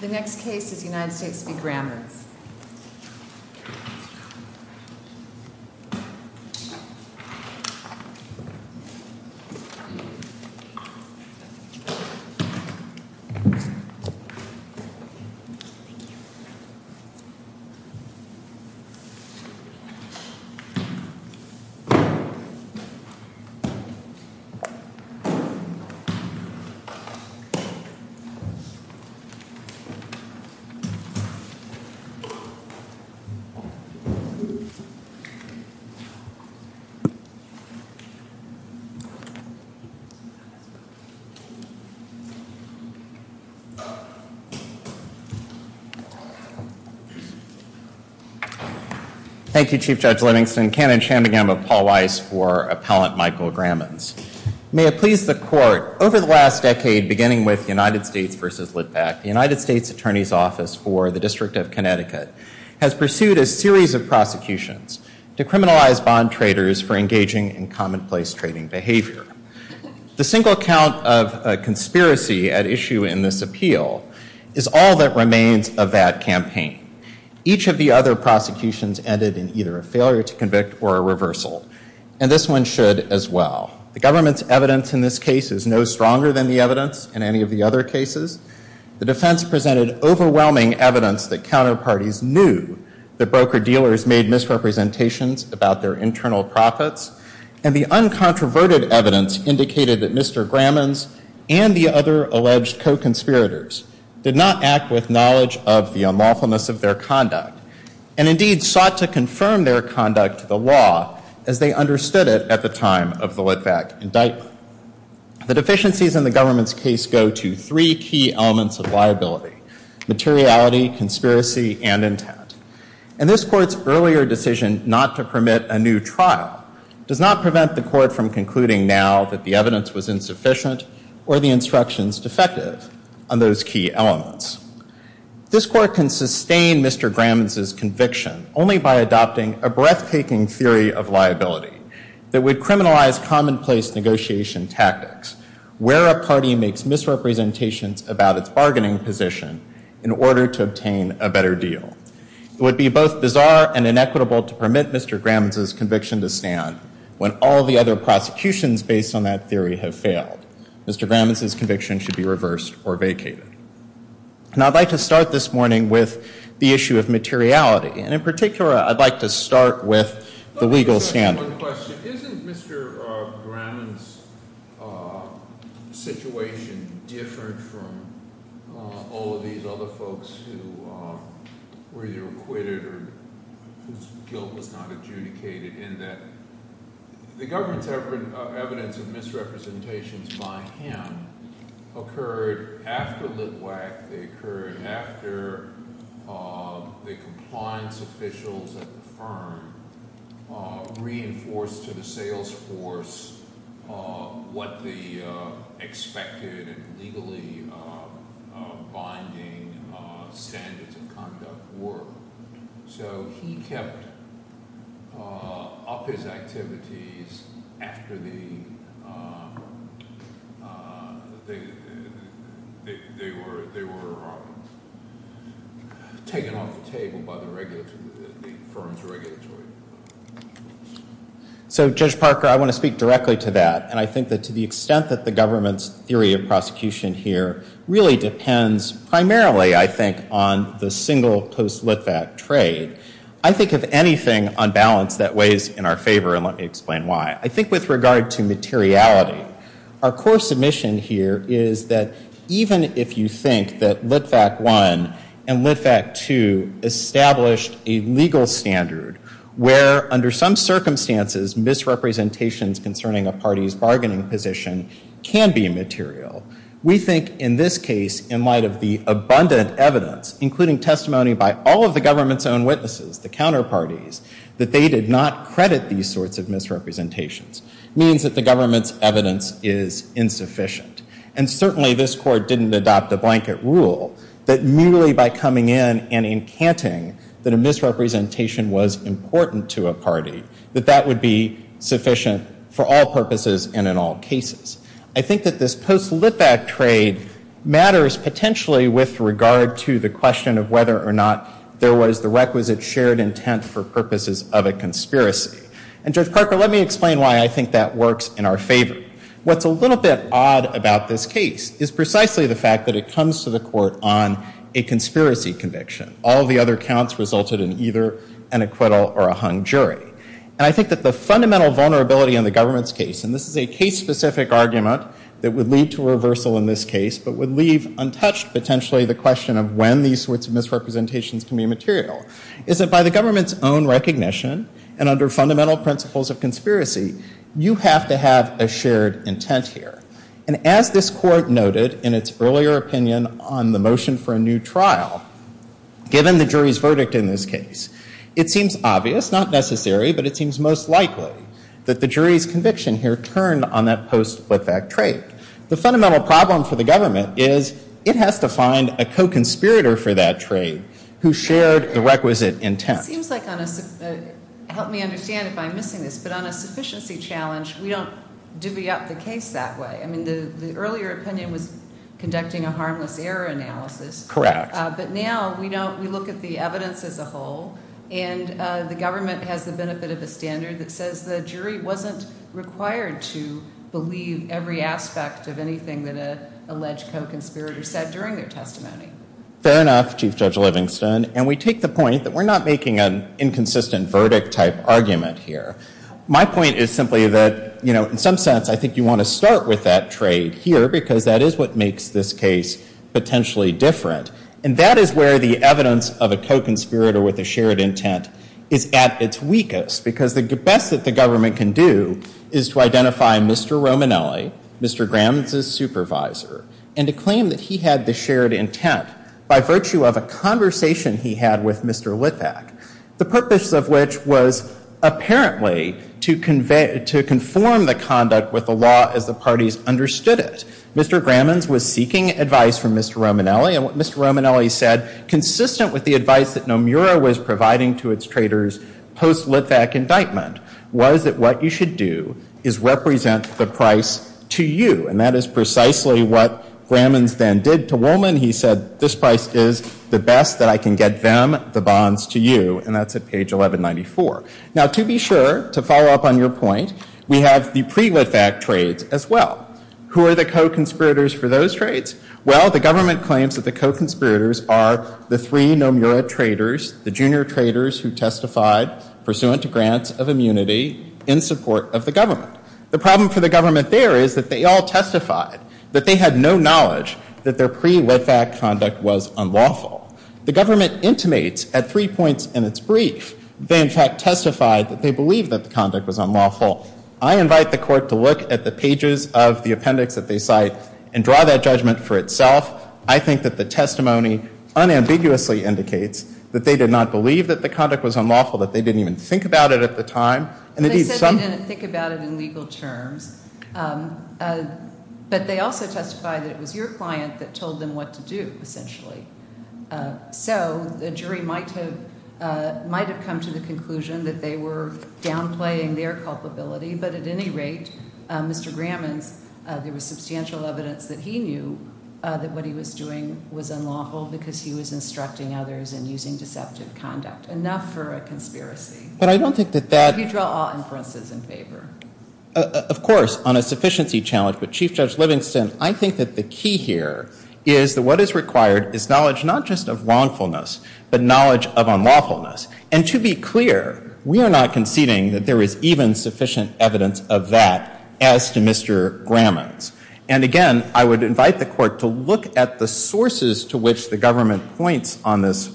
The next case is United States v. Grammons. Thank you, Chief Judge Livingston. Canon shambagam of Paul Weiss for Appellant Michael Grammons. May it please the court, over the last decade beginning with United States v. Litvak, the United States Attorney's Office for the District of Connecticut has pursued a series of prosecutions to criminalize bond traders for engaging in commonplace trading behavior. The single count of a conspiracy at issue in this appeal is all that remains of that campaign. Each of the other prosecutions ended in either a failure to convict or a reversal. And this one should as well. The government's evidence in this case is no stronger than the evidence in any of the other cases. The defense presented overwhelming evidence that counterparties knew that broker-dealers made misrepresentations about their internal profits. And the uncontroverted evidence indicated that Mr. Grammons and the other alleged co-conspirators did not act with knowledge of the unlawfulness of their conduct, and indeed sought to confirm their conduct to the law as they understood it at the time of the Litvak indictment. The deficiencies in the government's case go to three key elements of liability, materiality, conspiracy, and intent. And this court's earlier decision not to permit a new trial does not prevent the court from concluding now that the evidence was insufficient or the instructions defective on those key elements. This court can sustain Mr. Grammons' conviction only by adopting a breathtaking theory of liability that would criminalize commonplace negotiation tactics, where a party makes misrepresentations about its bargaining position in order to obtain a better deal. It would be both bizarre and inequitable to permit Mr. Grammons' conviction to stand when all the other prosecutions based on that theory have failed. Mr. Grammons' conviction should be reversed or vacated. And I'd like to start this morning with the issue of materiality. And in particular, I'd like to start with the legal standard. I just have one question. Isn't Mr. Grammons' situation different from all of these other folks who were either acquitted or whose guilt was not adjudicated in that the government's evidence of misrepresentations by him occurred after Litvak. They occurred after the compliance officials at the firm reinforced to the sales force what the expected and legally binding standards of conduct were. So he kept up his activities after they were taken off the table by the firm's regulatory. So Judge Parker, I want to speak directly to that. And I think that to the extent that the government's theory of prosecution here really depends primarily, I think, on the single post-Litvak trade. I think if anything, on balance, that weighs in our favor. And let me explain why. I think with regard to materiality, our core submission here is that even if you think that Litvak I and Litvak II established a legal standard where, under some circumstances, misrepresentations concerning a party's bargaining position can be material, we think in this case, in light of the abundant evidence, including testimony by all of the government's own witnesses, the counterparties, that they did not credit these sorts of misrepresentations, means that the government's evidence is insufficient. And certainly, this court didn't adopt a blanket rule that merely by coming in and encanting that a misrepresentation was important to a party, that that would be sufficient for all purposes and in all cases. I think that this post-Litvak trade matters potentially with regard to the question of whether or not there was the requisite shared intent for purposes of a conspiracy. And Judge Parker, let me explain why I think that works in our favor. What's a little bit odd about this case is precisely the fact that it comes to the court on a conspiracy conviction. All the other counts resulted in either an acquittal or a hung jury. And I think that the fundamental vulnerability in the government's case, and this is a case-specific argument that would lead to reversal in this case, but would leave untouched, potentially, the question of when these sorts of misrepresentations can be material, is that by the government's own recognition and under fundamental principles of conspiracy, you have to have a shared intent here. And as this court noted in its earlier opinion on the motion for a new trial, given the jury's verdict in this case, it seems obvious, not necessary, but it seems most likely that the jury's conviction here turned on that post-Litvak trade. The fundamental problem for the government is it has to find a co-conspirator for that trade who shared the requisite intent. It seems like on a, help me understand if I'm missing this, but on a sufficiency challenge, we don't divvy up the case that way. I mean, the earlier opinion was conducting a harmless error analysis. Correct. But now, we look at the evidence as a whole, and the government has the benefit of a standard that says the jury wasn't required to believe every aspect of anything that an alleged co-conspirator said during their testimony. Fair enough, Chief Judge Livingston. And we take the point that we're not making an inconsistent verdict type argument here. My point is simply that, in some sense, I think you want to start with that trade here, because that is what makes this case potentially different. And that is where the evidence of a co-conspirator with a shared intent is at its weakest, because the best that the government can do is to identify Mr. Romanelli, Mr. Grams' supervisor, and to claim that he had the shared intent by virtue of a conversation he had with Mr. Litvak, the purpose of which was apparently to conform the conduct with the law as the parties understood it. Mr. Grams' was seeking advice from Mr. Romanelli, and what Mr. Romanelli said, consistent with the advice that Nomura was providing to its traders post-Litvak indictment, was that what you should do is represent the price to you. And that is precisely what Grams' then did to Woolman. He said, this price is the best that I can get them the bonds to you. And that's at page 1194. Now, to be sure, to follow up on your point, we have the pre-Litvak trades as well. Who are the co-conspirators for those trades? Well, the government claims that the co-conspirators are the three Nomura traders, the junior traders who testified pursuant to grants of immunity in support of the government. The problem for the government there is that they all testified that they had no knowledge that their pre-Litvak conduct was unlawful. The government intimates at three points in its brief they, in fact, testified that they believed that the conduct was unlawful. I invite the court to look at the pages of the appendix that they cite and draw that judgment for itself. I think that the testimony unambiguously indicates that they did not believe that the conduct was unlawful, that they didn't even think about it at the time. And indeed, some- They said they didn't think about it in legal terms. But they also testified that it was your client that told them what to do, essentially. So the jury might have come to the conclusion that they were downplaying their culpability. But at any rate, Mr. Gramans, there was substantial evidence that he knew that what he was doing was unlawful because he was instructing others in using deceptive conduct. Enough for a conspiracy. But I don't think that that- Could you draw all inferences in favor? Of course, on a sufficiency challenge. But Chief Judge Livingston, I think that the key here is that what is required is knowledge not just of wrongfulness, but knowledge of unlawfulness. And to be clear, we are not conceding that there is even sufficient evidence of that as to Mr. Gramans. And again, I would invite the court to look at the sources to which the government points on this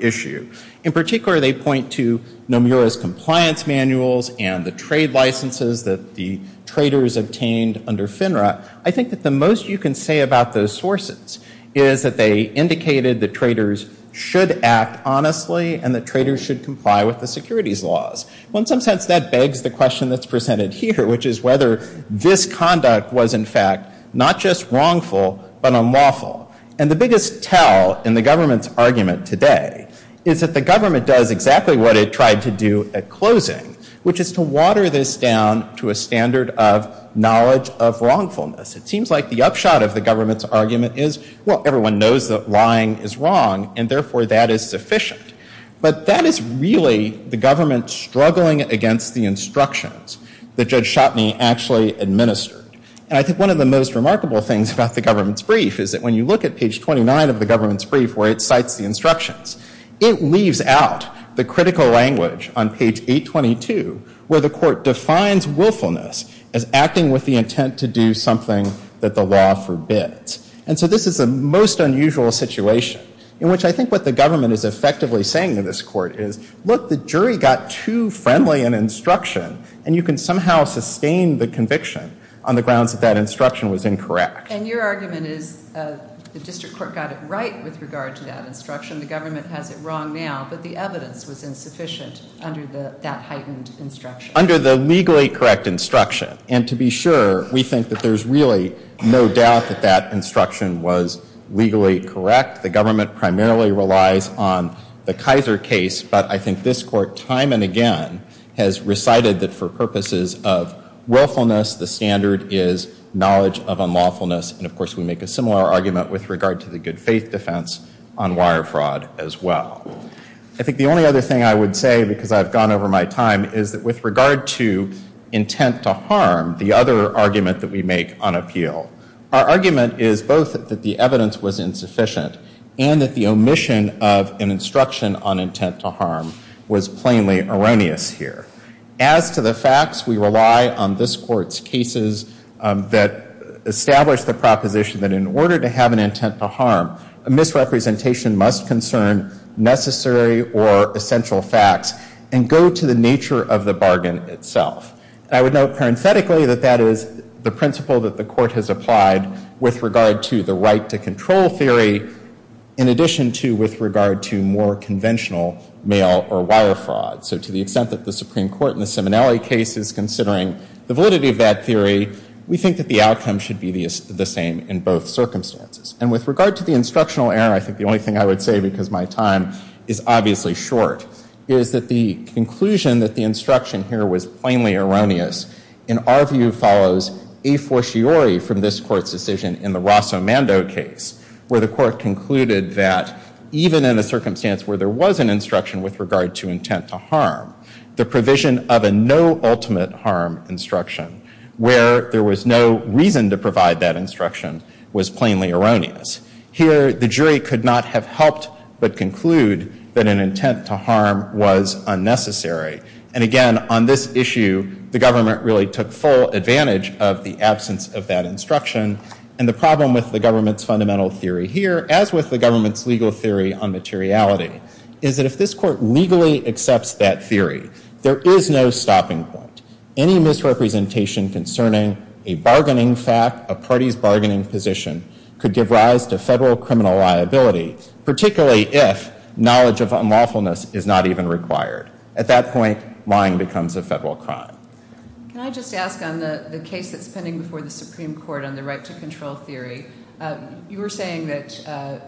issue. In particular, they point to Nomura's compliance manuals and the trade licenses that the traders obtained under FINRA. I think that the most you can say about those sources is that they indicated that traders should act honestly and that traders should comply with the securities laws. Well, in some sense, that begs the question that's presented here, which is whether this conduct was, in fact, not just wrongful, but unlawful. And the biggest tell in the government's argument today is that the government does exactly what it tried to do at closing, which is to water this down to a standard of knowledge of wrongfulness. It seems like the upshot of the government's argument is, well, everyone knows that lying is wrong, and therefore, that is sufficient. But that is really the government struggling against the instructions that Judge Schotteny actually administered. And I think one of the most remarkable things about the government's brief is that when you look at page 29 of the government's brief where it cites the instructions, it leaves out the critical language on page 822 where the court defines willfulness as acting with the intent to do something that the law forbids. And so this is the most unusual situation in which I think what the government is effectively saying to this court is, look, the jury got too friendly an instruction, and you can somehow sustain the conviction on the grounds that that instruction was incorrect. And your argument is the district court got it right with regard to that instruction. The government has it wrong now, but the evidence was insufficient under that heightened instruction. Under the legally correct instruction. And to be sure, we think that there's really no doubt that that instruction was legally correct. The government primarily relies on the Kaiser case, but I think this court time and again has recited that for purposes of willfulness, the standard is knowledge of unlawfulness. And of course, we make a similar argument with regard to the good faith defense on wire fraud as well. I think the only other thing I would say, because I've gone over my time, is that with regard to intent to harm, the other argument that we make on appeal, our argument is both that the evidence was insufficient and that the omission of an instruction on intent to harm was plainly erroneous here. As to the facts, we rely on this court's cases that establish the proposition that in order to have an intent to harm, a misrepresentation must concern necessary or essential facts and go to the nature of the bargain itself. I would note parenthetically that that is the principle that the court has applied with regard to the right to control theory in addition to with regard to more conventional mail or wire fraud. So to the extent that the Supreme Court in the Simonelli case is considering the validity of that theory, we think that the outcome should be the same in both circumstances. And with regard to the instructional error, I think the only thing I would say, because my time is obviously short, is that the conclusion that the instruction here was plainly erroneous, in our view, follows a fortiori from this court's decision in the Rosso Mando case, where the court concluded that even in a circumstance where there was an instruction with regard to intent to harm, the provision of a no ultimate harm instruction, where there was no reason to provide that instruction, was plainly erroneous. Here, the jury could not have helped but conclude that an intent to harm was unnecessary. And again, on this issue, the government really took full advantage of the absence of that instruction. And the problem with the government's fundamental theory here, as with the government's legal theory on materiality, is that if this court legally accepts that theory, there is no stopping point. Any misrepresentation concerning a bargaining fact, a party's bargaining position, could give rise to federal criminal liability, particularly if knowledge of unlawfulness is not even required. At that point, lying becomes a federal crime. Can I just ask on the case that's pending before the Supreme Court on the right to control theory, you were saying that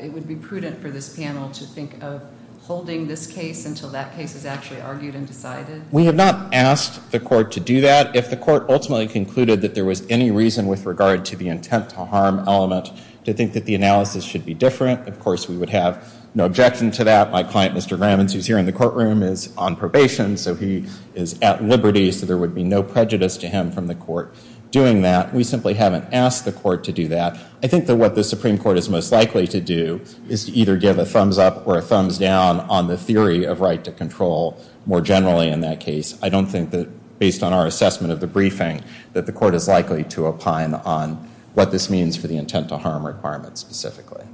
it would be prudent for this panel to think of holding this case until that case is actually argued and decided? We have not asked the court to do that. If the court ultimately concluded that there was any reason with regard to the intent to harm element to think that the analysis should be different, of course, we would have no objection to that. My client, Mr. Grammins, who's here in the courtroom, is on probation. So he is at liberty. So there would be no prejudice to him from the court doing that. We simply haven't asked the court to do that. I think that what the Supreme Court is most likely to do is to either give a thumbs up or a thumbs down on the theory of right to control more generally in that case. I don't think that, based on our assessment of the briefing, that the court is likely to opine on what this means for the intent to harm requirement specifically.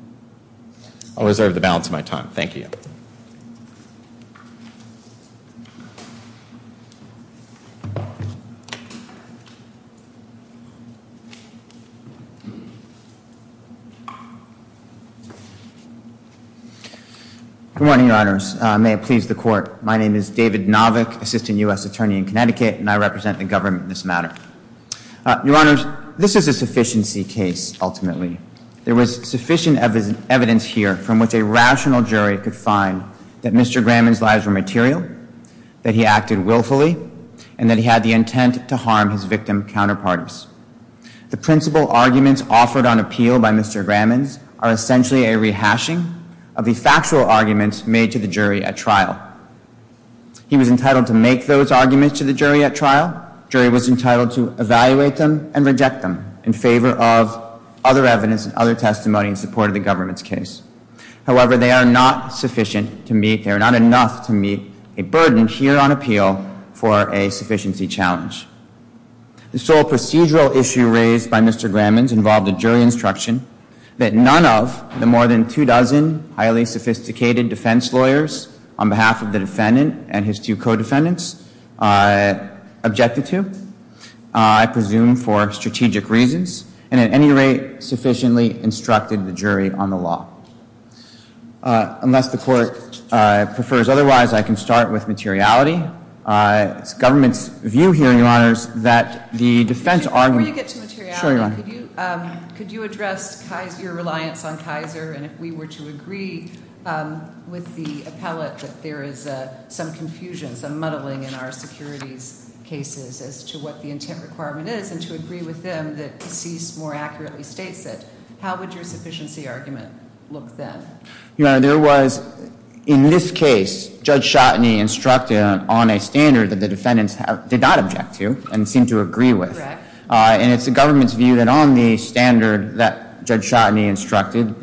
I'll reserve the balance of my time. Thank you. Thank you. Good morning, Your Honors. May it please the court. My name is David Novick, Assistant US Attorney in Connecticut, and I represent the government in this matter. Your Honors, this is a sufficiency case, ultimately. There was sufficient evidence here from which a rational jury could find that Mr. Gramman's lies were material, that he acted willfully, and that he had the intent to harm his victim counterparts. The principal arguments offered on appeal by Mr. Gramman's are essentially a rehashing of the factual arguments made to the jury at trial. He was entitled to make those arguments to the jury at trial. Jury was entitled to evaluate them and reject them in favor of other evidence and other testimony in support of the government's case. However, they are not sufficient to meet. They are not enough to meet a burden here on appeal for a sufficiency challenge. The sole procedural issue raised by Mr. Gramman's involved a jury instruction that none of the more than two dozen highly sophisticated defense lawyers on behalf of the defendant and his two co-defendants objected to, I presume for strategic reasons, and at any rate sufficiently instructed the jury on the law. Unless the court prefers otherwise, I can start with materiality. It's government's view here, Your Honors, that the defense argument- Before you get to materiality, could you address your reliance on Kaiser? And if we were to agree with the appellate that there is some confusion, some muddling in our securities cases as to what the intent requirement is, and to agree with them that Cease more accurately states it, how would your sufficiency argument look then? Your Honor, there was, in this case, Judge Schotteny instructed on a standard that the defendants did not object to and seemed to agree with. And it's the government's view that on the standard that Judge Schotteny instructed,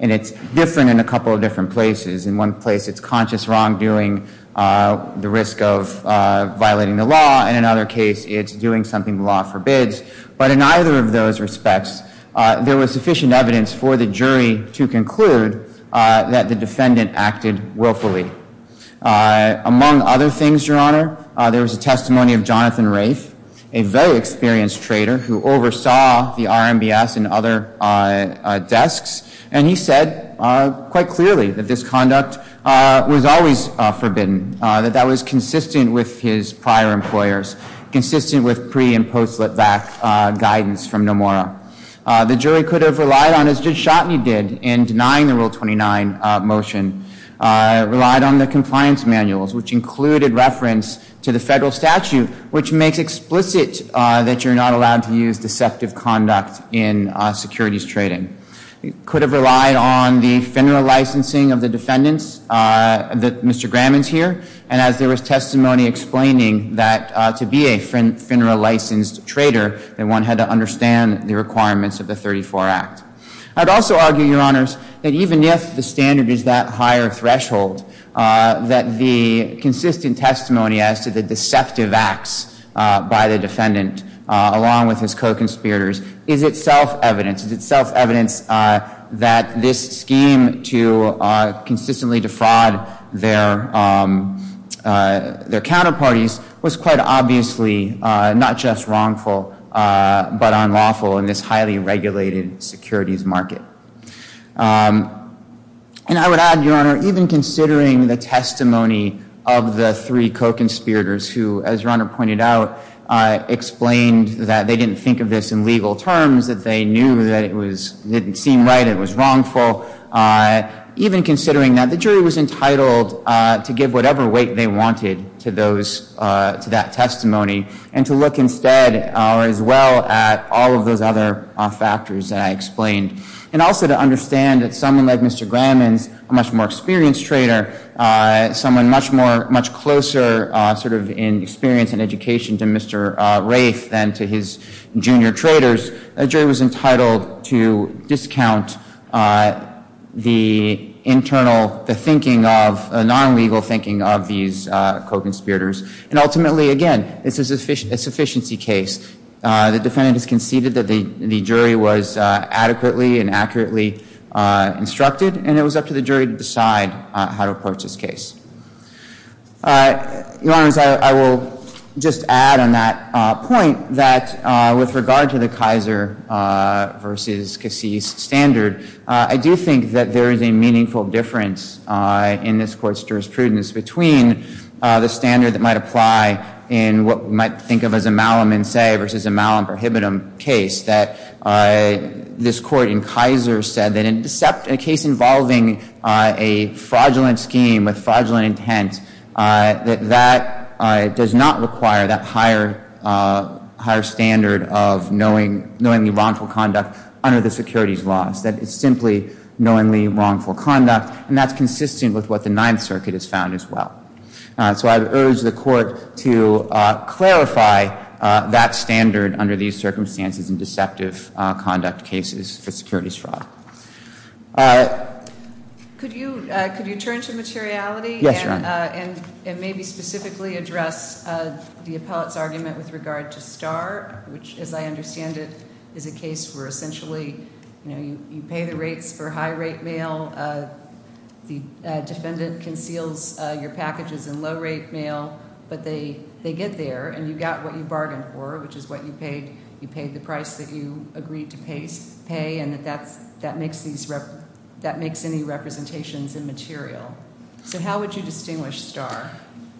and it's different in a couple of different places. In one place, it's conscious wrongdoing, the risk of violating the law. In another case, it's doing something the law forbids. But in either of those respects, there was sufficient evidence for the jury to conclude that the defendant acted willfully. Among other things, Your Honor, there was a testimony of Jonathan Rafe, a very experienced trader who oversaw the RMBS and other desks. And he said quite clearly that this conduct was always forbidden, that that was consistent with his prior employers, consistent with pre- and post-slipback guidance from Nomura. The jury could have relied on, as Judge Schotteny did, in denying the Rule 29 motion, relied on the compliance manuals, which included reference to the federal statute, which makes explicit that you're not allowed to use deceptive conduct in securities trading. It could have relied on the federal licensing of the defendants, that Mr. Graham is here. And as there was testimony explaining that to be a FINRA-licensed trader, that one had to understand the requirements of the 34 Act. I'd also argue, Your Honors, that even if the standard is that higher threshold, that the consistent testimony as to the deceptive acts by the defendant, along with his co-conspirators, is itself evidence, is itself evidence that this scheme to consistently defraud their counterparties was quite obviously not just wrongful, but unlawful in this highly regulated securities market. And I would add, Your Honor, even considering the testimony of the three co-conspirators who, as Your Honor pointed out, explained that they didn't think of this in legal terms, that they knew that it didn't seem right, it was wrongful, even considering that the jury was entitled to give whatever weight they wanted to that testimony and to look instead, or as well, at all of those other factors that I explained. And also to understand that someone like Mr. Graham is a much more experienced trader, someone much closer in experience and education to Mr. Rafe than to his junior traders, a jury was entitled to discount the internal thinking of a non-legal thinking of these co-conspirators. And ultimately, again, this is a sufficiency case. The defendant has conceded that the jury was adequately and accurately instructed, and it was up to the jury to decide how to approach this case. Your Honor, as I will just add on that point that, with regard to the Kaiser versus Cassis standard, I do think that there is a meaningful difference in this court's jurisprudence between the standard that might apply in what we might think of as a Malum in se versus a Malum prohibitum case, that this court in Kaiser said that in a case involving a fraudulent scheme with fraudulent intent, that that does not require that higher standard of knowingly wrongful conduct under the securities laws. That it's simply knowingly wrongful conduct, and that's consistent with what the Ninth Circuit has found, as well. So I would urge the court to clarify that standard under these circumstances in deceptive conduct cases for securities fraud. Could you turn to materiality and maybe specifically address the appellate's argument with regard to Starr, which, as I understand it, is a case where, essentially, you pay the rates for high-rate mail. The defendant conceals your packages in low-rate mail, but they get there, and you got what you bargained for, which is what you paid. You paid the price that you agreed to pay, and that makes any representations immaterial. So how would you distinguish Starr?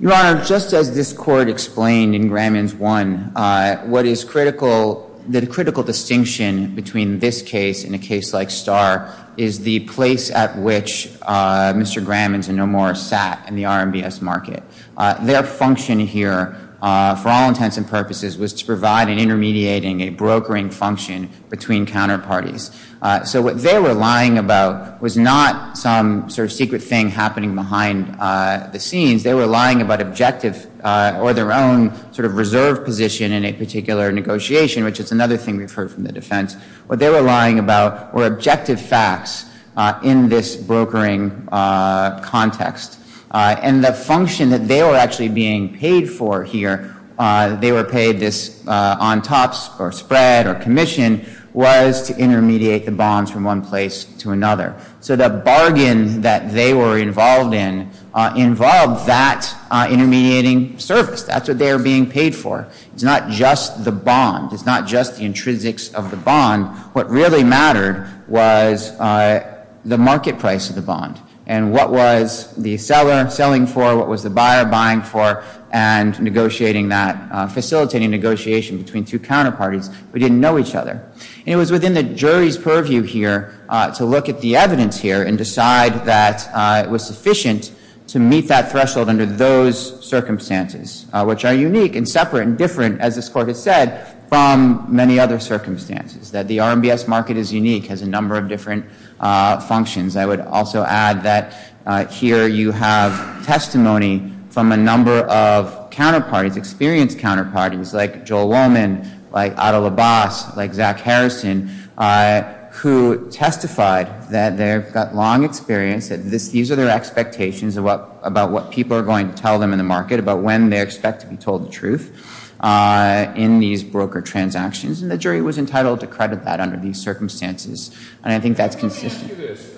Your Honor, just as this court explained in Grammons 1, what is the critical distinction between this case and a case like Starr is the place at which Mr. Grammons and Nomore sat in the RMBS market. Their function here, for all intents and purposes, was to provide an intermediating, a brokering function between counterparties. So what they were lying about was not some sort of secret thing happening behind the scenes. They were lying about objective or their own reserve position in a particular negotiation, which is another thing we've heard from the defense. What they were lying about were objective facts in this brokering context. And the function that they were actually being paid for here, they were paid this on-tops or spread or commission, was to intermediate the bonds from one place to another. So the bargain that they were involved in involved that intermediating service. That's what they were being paid for. It's not just the bond. It's not just the intrinsics of the bond. What really mattered was the market price of the bond and what was the seller selling for, what was the buyer buying for, and facilitating negotiation between two counterparties but didn't know each other. And it was within the jury's purview here to look at the evidence here and decide that it was sufficient to meet that threshold under those circumstances, which are unique and separate and different, as this court has said, from many other circumstances, that the RMBS market is unique, has a number of different functions. I would also add that here you have testimony from a number of experienced counterparties, like Joel Wollman, like Adel Abbas, like Zach Harrison, who testified that they've got long experience. These are their expectations about what people are going to tell them in the market about when they expect to be told the truth in these broker transactions. And the jury was entitled to credit that under these circumstances. And I think that's consistent. Let me ask you this.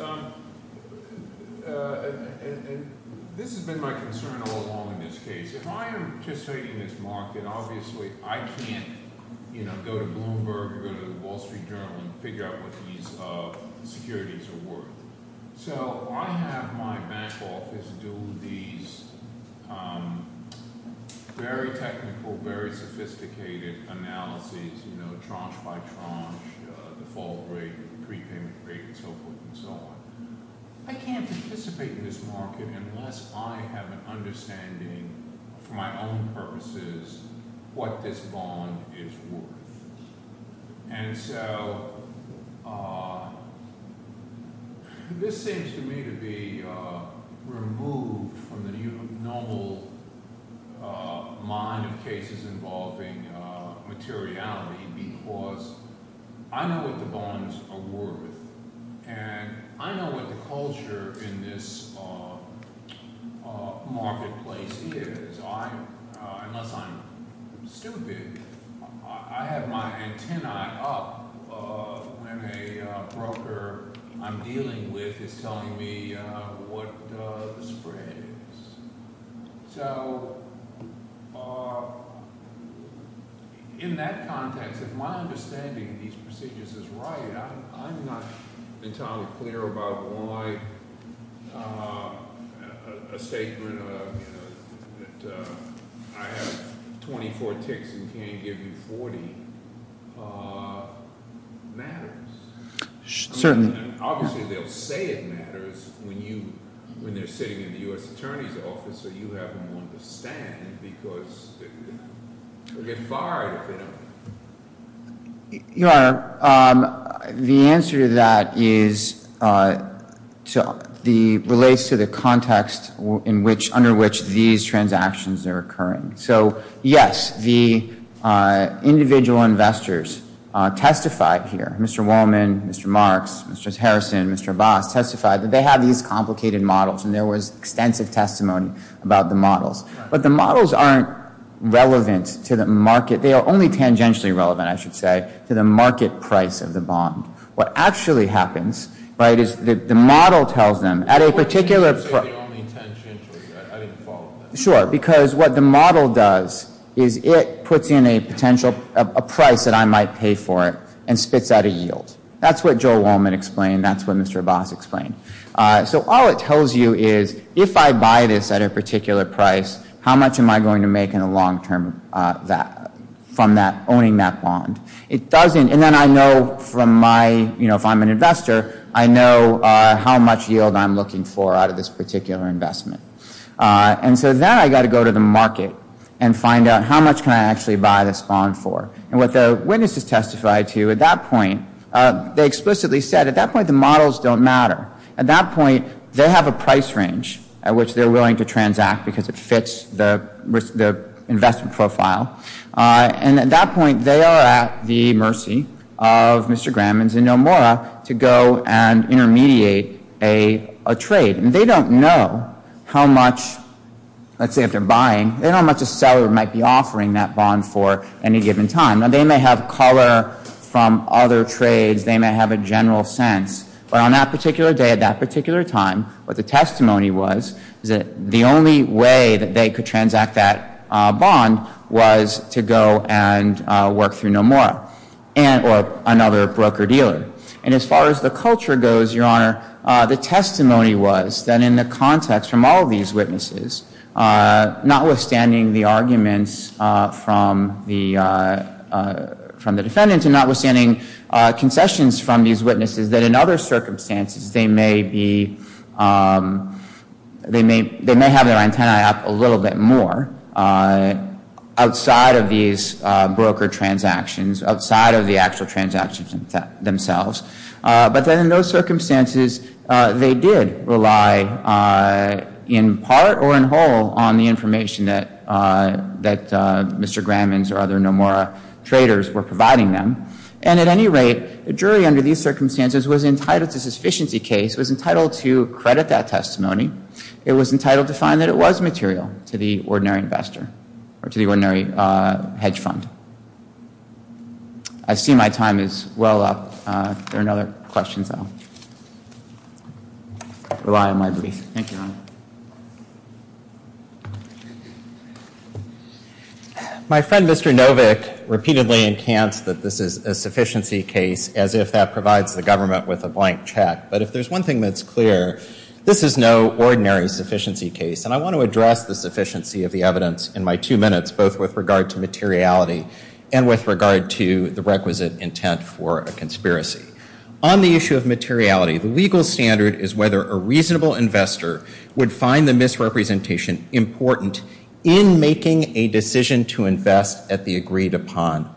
This has been my concern all along in this case. If I am participating in this market, obviously I can't go to Bloomberg or go to the Wall Street Journal and figure out what these securities are worth. So I have my bank office do these very technical, very sophisticated analyses, tranche by tranche, default rate, prepayment rate, and so forth and so on. I can't participate in this market unless I have an understanding, for my own purposes, what this bond is worth. And so this seems to me to be removed from the normal mind of cases involving materiality because I know what the bonds are worth. And I know what the culture in this marketplace is. Unless I'm stupid, I have my antenna up when a broker I'm dealing with is telling me what the spread is. So in that context, if my understanding of these procedures is right, I'm not entirely clear about why a statement that I have 24 ticks and can't give you 40 matters. Certainly. Obviously they'll say it matters when they're sitting in the US Attorney's office or you have them on the stand because they'll get fired if they don't. Your Honor, the answer to that relates to the context under which these transactions are occurring. So yes, the individual investors testified here. Mr. Wallman, Mr. Marks, Mr. Harrison, Mr. Voss testified that they have these complicated models. And there was extensive testimony about the models. But the models aren't relevant to the market. They are only tangentially relevant, I should say, to the market price of the bond. What actually happens is the model tells them at a particular price. You didn't say the only tangentially. I didn't follow that. Sure, because what the model does is it puts in a price that I might pay for it and spits out a yield. That's what Joe Wallman explained. That's what Mr. Voss explained. So all it tells you is, if I buy this at a particular price, how much am I going to make in the long term from owning that bond? It doesn't. And then I know from my, if I'm an investor, I know how much yield I'm looking for out of this particular investment. And so then I got to go to the market and find out how much can I actually buy this bond for. And what the witnesses testified to at that point, they explicitly said, at that point, the models don't matter. At that point, they have a price range at which they're willing to transact because it fits the investment profile. And at that point, they are at the mercy of Mr. Gramans and Nomura to go and intermediate a trade. And they don't know how much, let's say, if they're buying, they don't know how much a seller might be offering that bond for any given time. Now, they may have color from other trades. They may have a general sense. But on that particular day, at that particular time, what the testimony was is that the only way that they could transact that bond was to go and work through Nomura or another broker-dealer. And as far as the culture goes, Your Honor, the testimony was that in the context from all of these witnesses, notwithstanding the arguments from the defendant and notwithstanding concessions from these witnesses, that in other circumstances, they may have their antenna up a little bit more outside of these broker transactions, outside of the actual transactions themselves. But then in those circumstances, they did rely in part or in whole on the information that Mr. Gramman's or other Nomura traders were providing them. And at any rate, the jury under these circumstances was entitled to sufficiency case, was entitled to credit that testimony. It was entitled to find that it was material to the ordinary investor or to the ordinary hedge fund. I see my time is well up. Rely on my brief. Thank you, Your Honor. My friend, Mr. Novick, repeatedly encants that this is a sufficiency case as if that provides the government with a blank check. But if there's one thing that's clear, this is no ordinary sufficiency case. And I want to address the sufficiency of the evidence in my two minutes, both with regard to materiality and with regard to the requisite intent for a conspiracy. On the issue of materiality, the legal standard is whether a reasonable investor would find the misrepresentation important in making a decision to invest at the agreed upon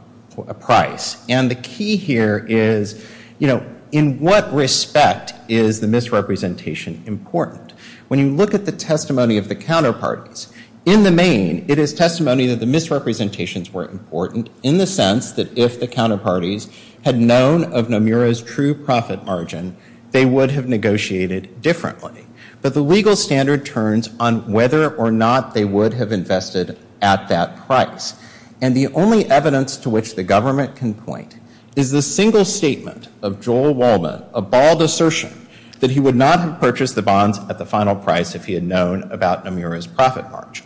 price. And the key here is, in what respect is the misrepresentation important? When you look at the testimony of the counterparties, in the main, it is testimony that the misrepresentations were important in the sense that if the counterparties had known of Nomura's true profit margin, they would have negotiated differently. But the legal standard turns on whether or not they would have invested at that price. And the only evidence to which the government can point is the single statement of Joel Wallman, a bald assertion that he would not have purchased the bonds at the final price if he had known about Nomura's profit margin.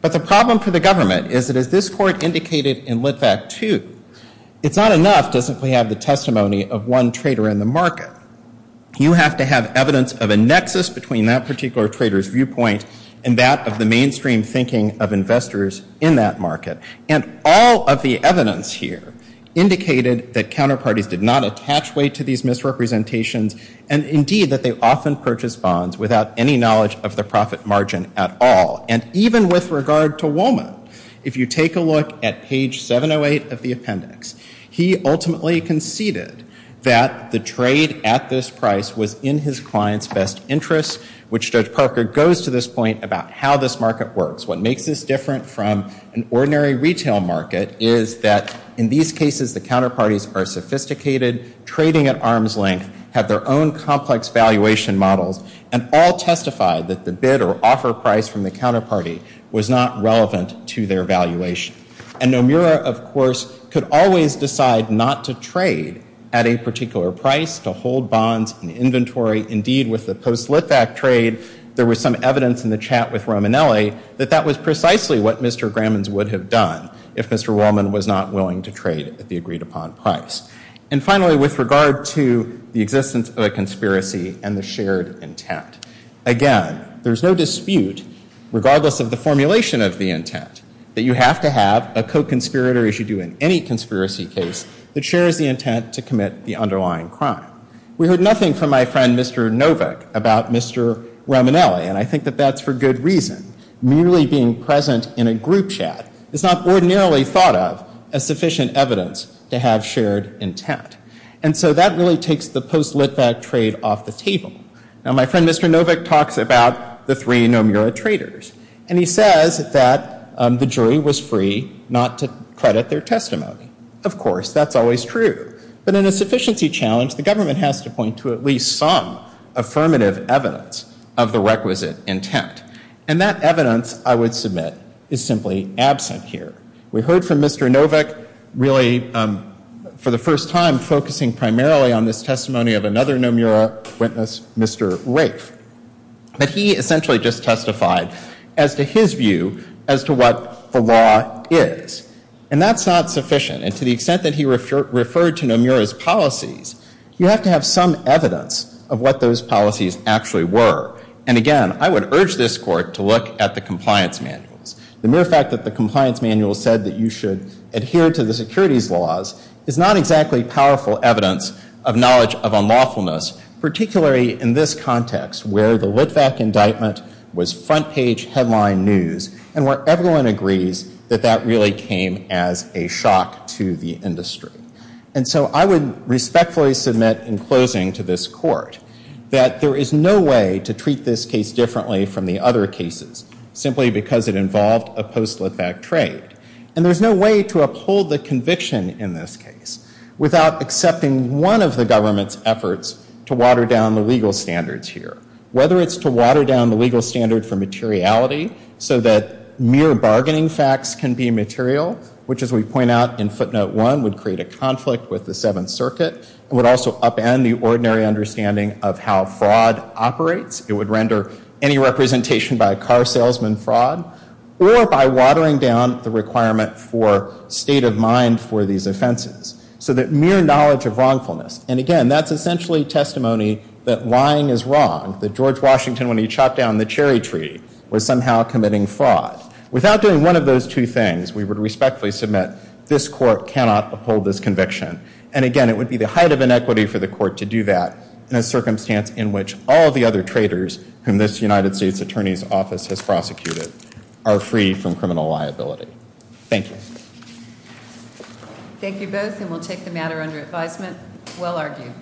But the problem for the government is that, as this court indicated in Lit Vact II, it's not enough to simply have the testimony of one trader in the market. You have to have evidence of a nexus between that particular trader's viewpoint and that of the mainstream thinking of investors in that market. And all of the evidence here indicated that counterparties did not attach weight to these misrepresentations, and indeed that they often purchased bonds without any knowledge of the profit margin at all. And even with regard to Wallman, if you take a look at page 708 of the appendix, he ultimately conceded that the trade at this price was in his client's best interest, which Judge Parker goes to this point about how this market works. What makes this different from an ordinary retail market is that, in these cases, the counterparties are sophisticated, trading at arm's length, have their own complex valuation models, and all testify that the bid or offer price from the counterparty was not relevant to their valuation. And Nomura, of course, could always decide not to trade at a particular price to hold bonds in inventory. Indeed, with the post-Litvak trade, there was some evidence in the chat with Romanelli that that was precisely what Mr. Gramans would have done if Mr. Wallman was not willing to trade at the agreed-upon price. And finally, with regard to the existence of a conspiracy and the shared intent, again, there's no dispute, regardless of the formulation of the intent, that you have to have a co-conspirator, as you do in any conspiracy case, that shares the intent to commit the underlying crime. We heard nothing from my friend Mr. Novak about Mr. Romanelli. And I think that that's for good reason. Merely being present in a group chat is not ordinarily thought of as sufficient evidence to have shared intent. And so that really takes the post-Litvak trade off the table. Now, my friend Mr. Novak talks about the three Nomura traders. And he says that the jury was free not to credit their testimony. Of course, that's always true. But in a sufficiency challenge, the government has to point to at least some affirmative evidence of the requisite intent. And that evidence, I would submit, is simply absent here. We heard from Mr. Novak really, for the first time, focusing primarily on this testimony of another Nomura witness, Mr. Rafe. But he essentially just testified as to his view as to what the law is. And that's not sufficient. And to the extent that he referred to Nomura's policies, you have to have some evidence of what those policies actually were. And again, I would urge this court to look at the compliance manuals. The mere fact that the compliance manual said that you should adhere to the securities laws is not exactly powerful evidence of knowledge of unlawfulness, particularly in this context, where the Litvak indictment was front page headline news, and where everyone agrees that that really came as a shock to the industry. And so I would respectfully submit in closing to this court that there is no way to treat this case differently from the other cases, simply because it involved a post-Litvak trade. And there's no way to uphold the conviction in this case without accepting one of the government's efforts to water down the legal standards here, whether it's to water down the legal standard for materiality so that mere bargaining facts can be material, which as we point out in footnote one, would create a conflict with the Seventh Circuit, and would also upend the ordinary understanding of how fraud operates. It would render any representation by a car salesman fraud, or by watering down the requirement for state of mind for these offenses, so that mere knowledge of wrongfulness. And again, that's essentially testimony that lying is wrong, that George Washington, when he chopped down the cherry tree, was somehow committing fraud. Without doing one of those two things, we would respectfully submit this court cannot uphold this conviction. And again, it would be the height of inequity for the court to do that in a circumstance in which all of the other traders whom this United States Attorney's prosecuted are free from criminal liability. Thank you. Thank you both, and we'll take the matter under advisement. Well argued.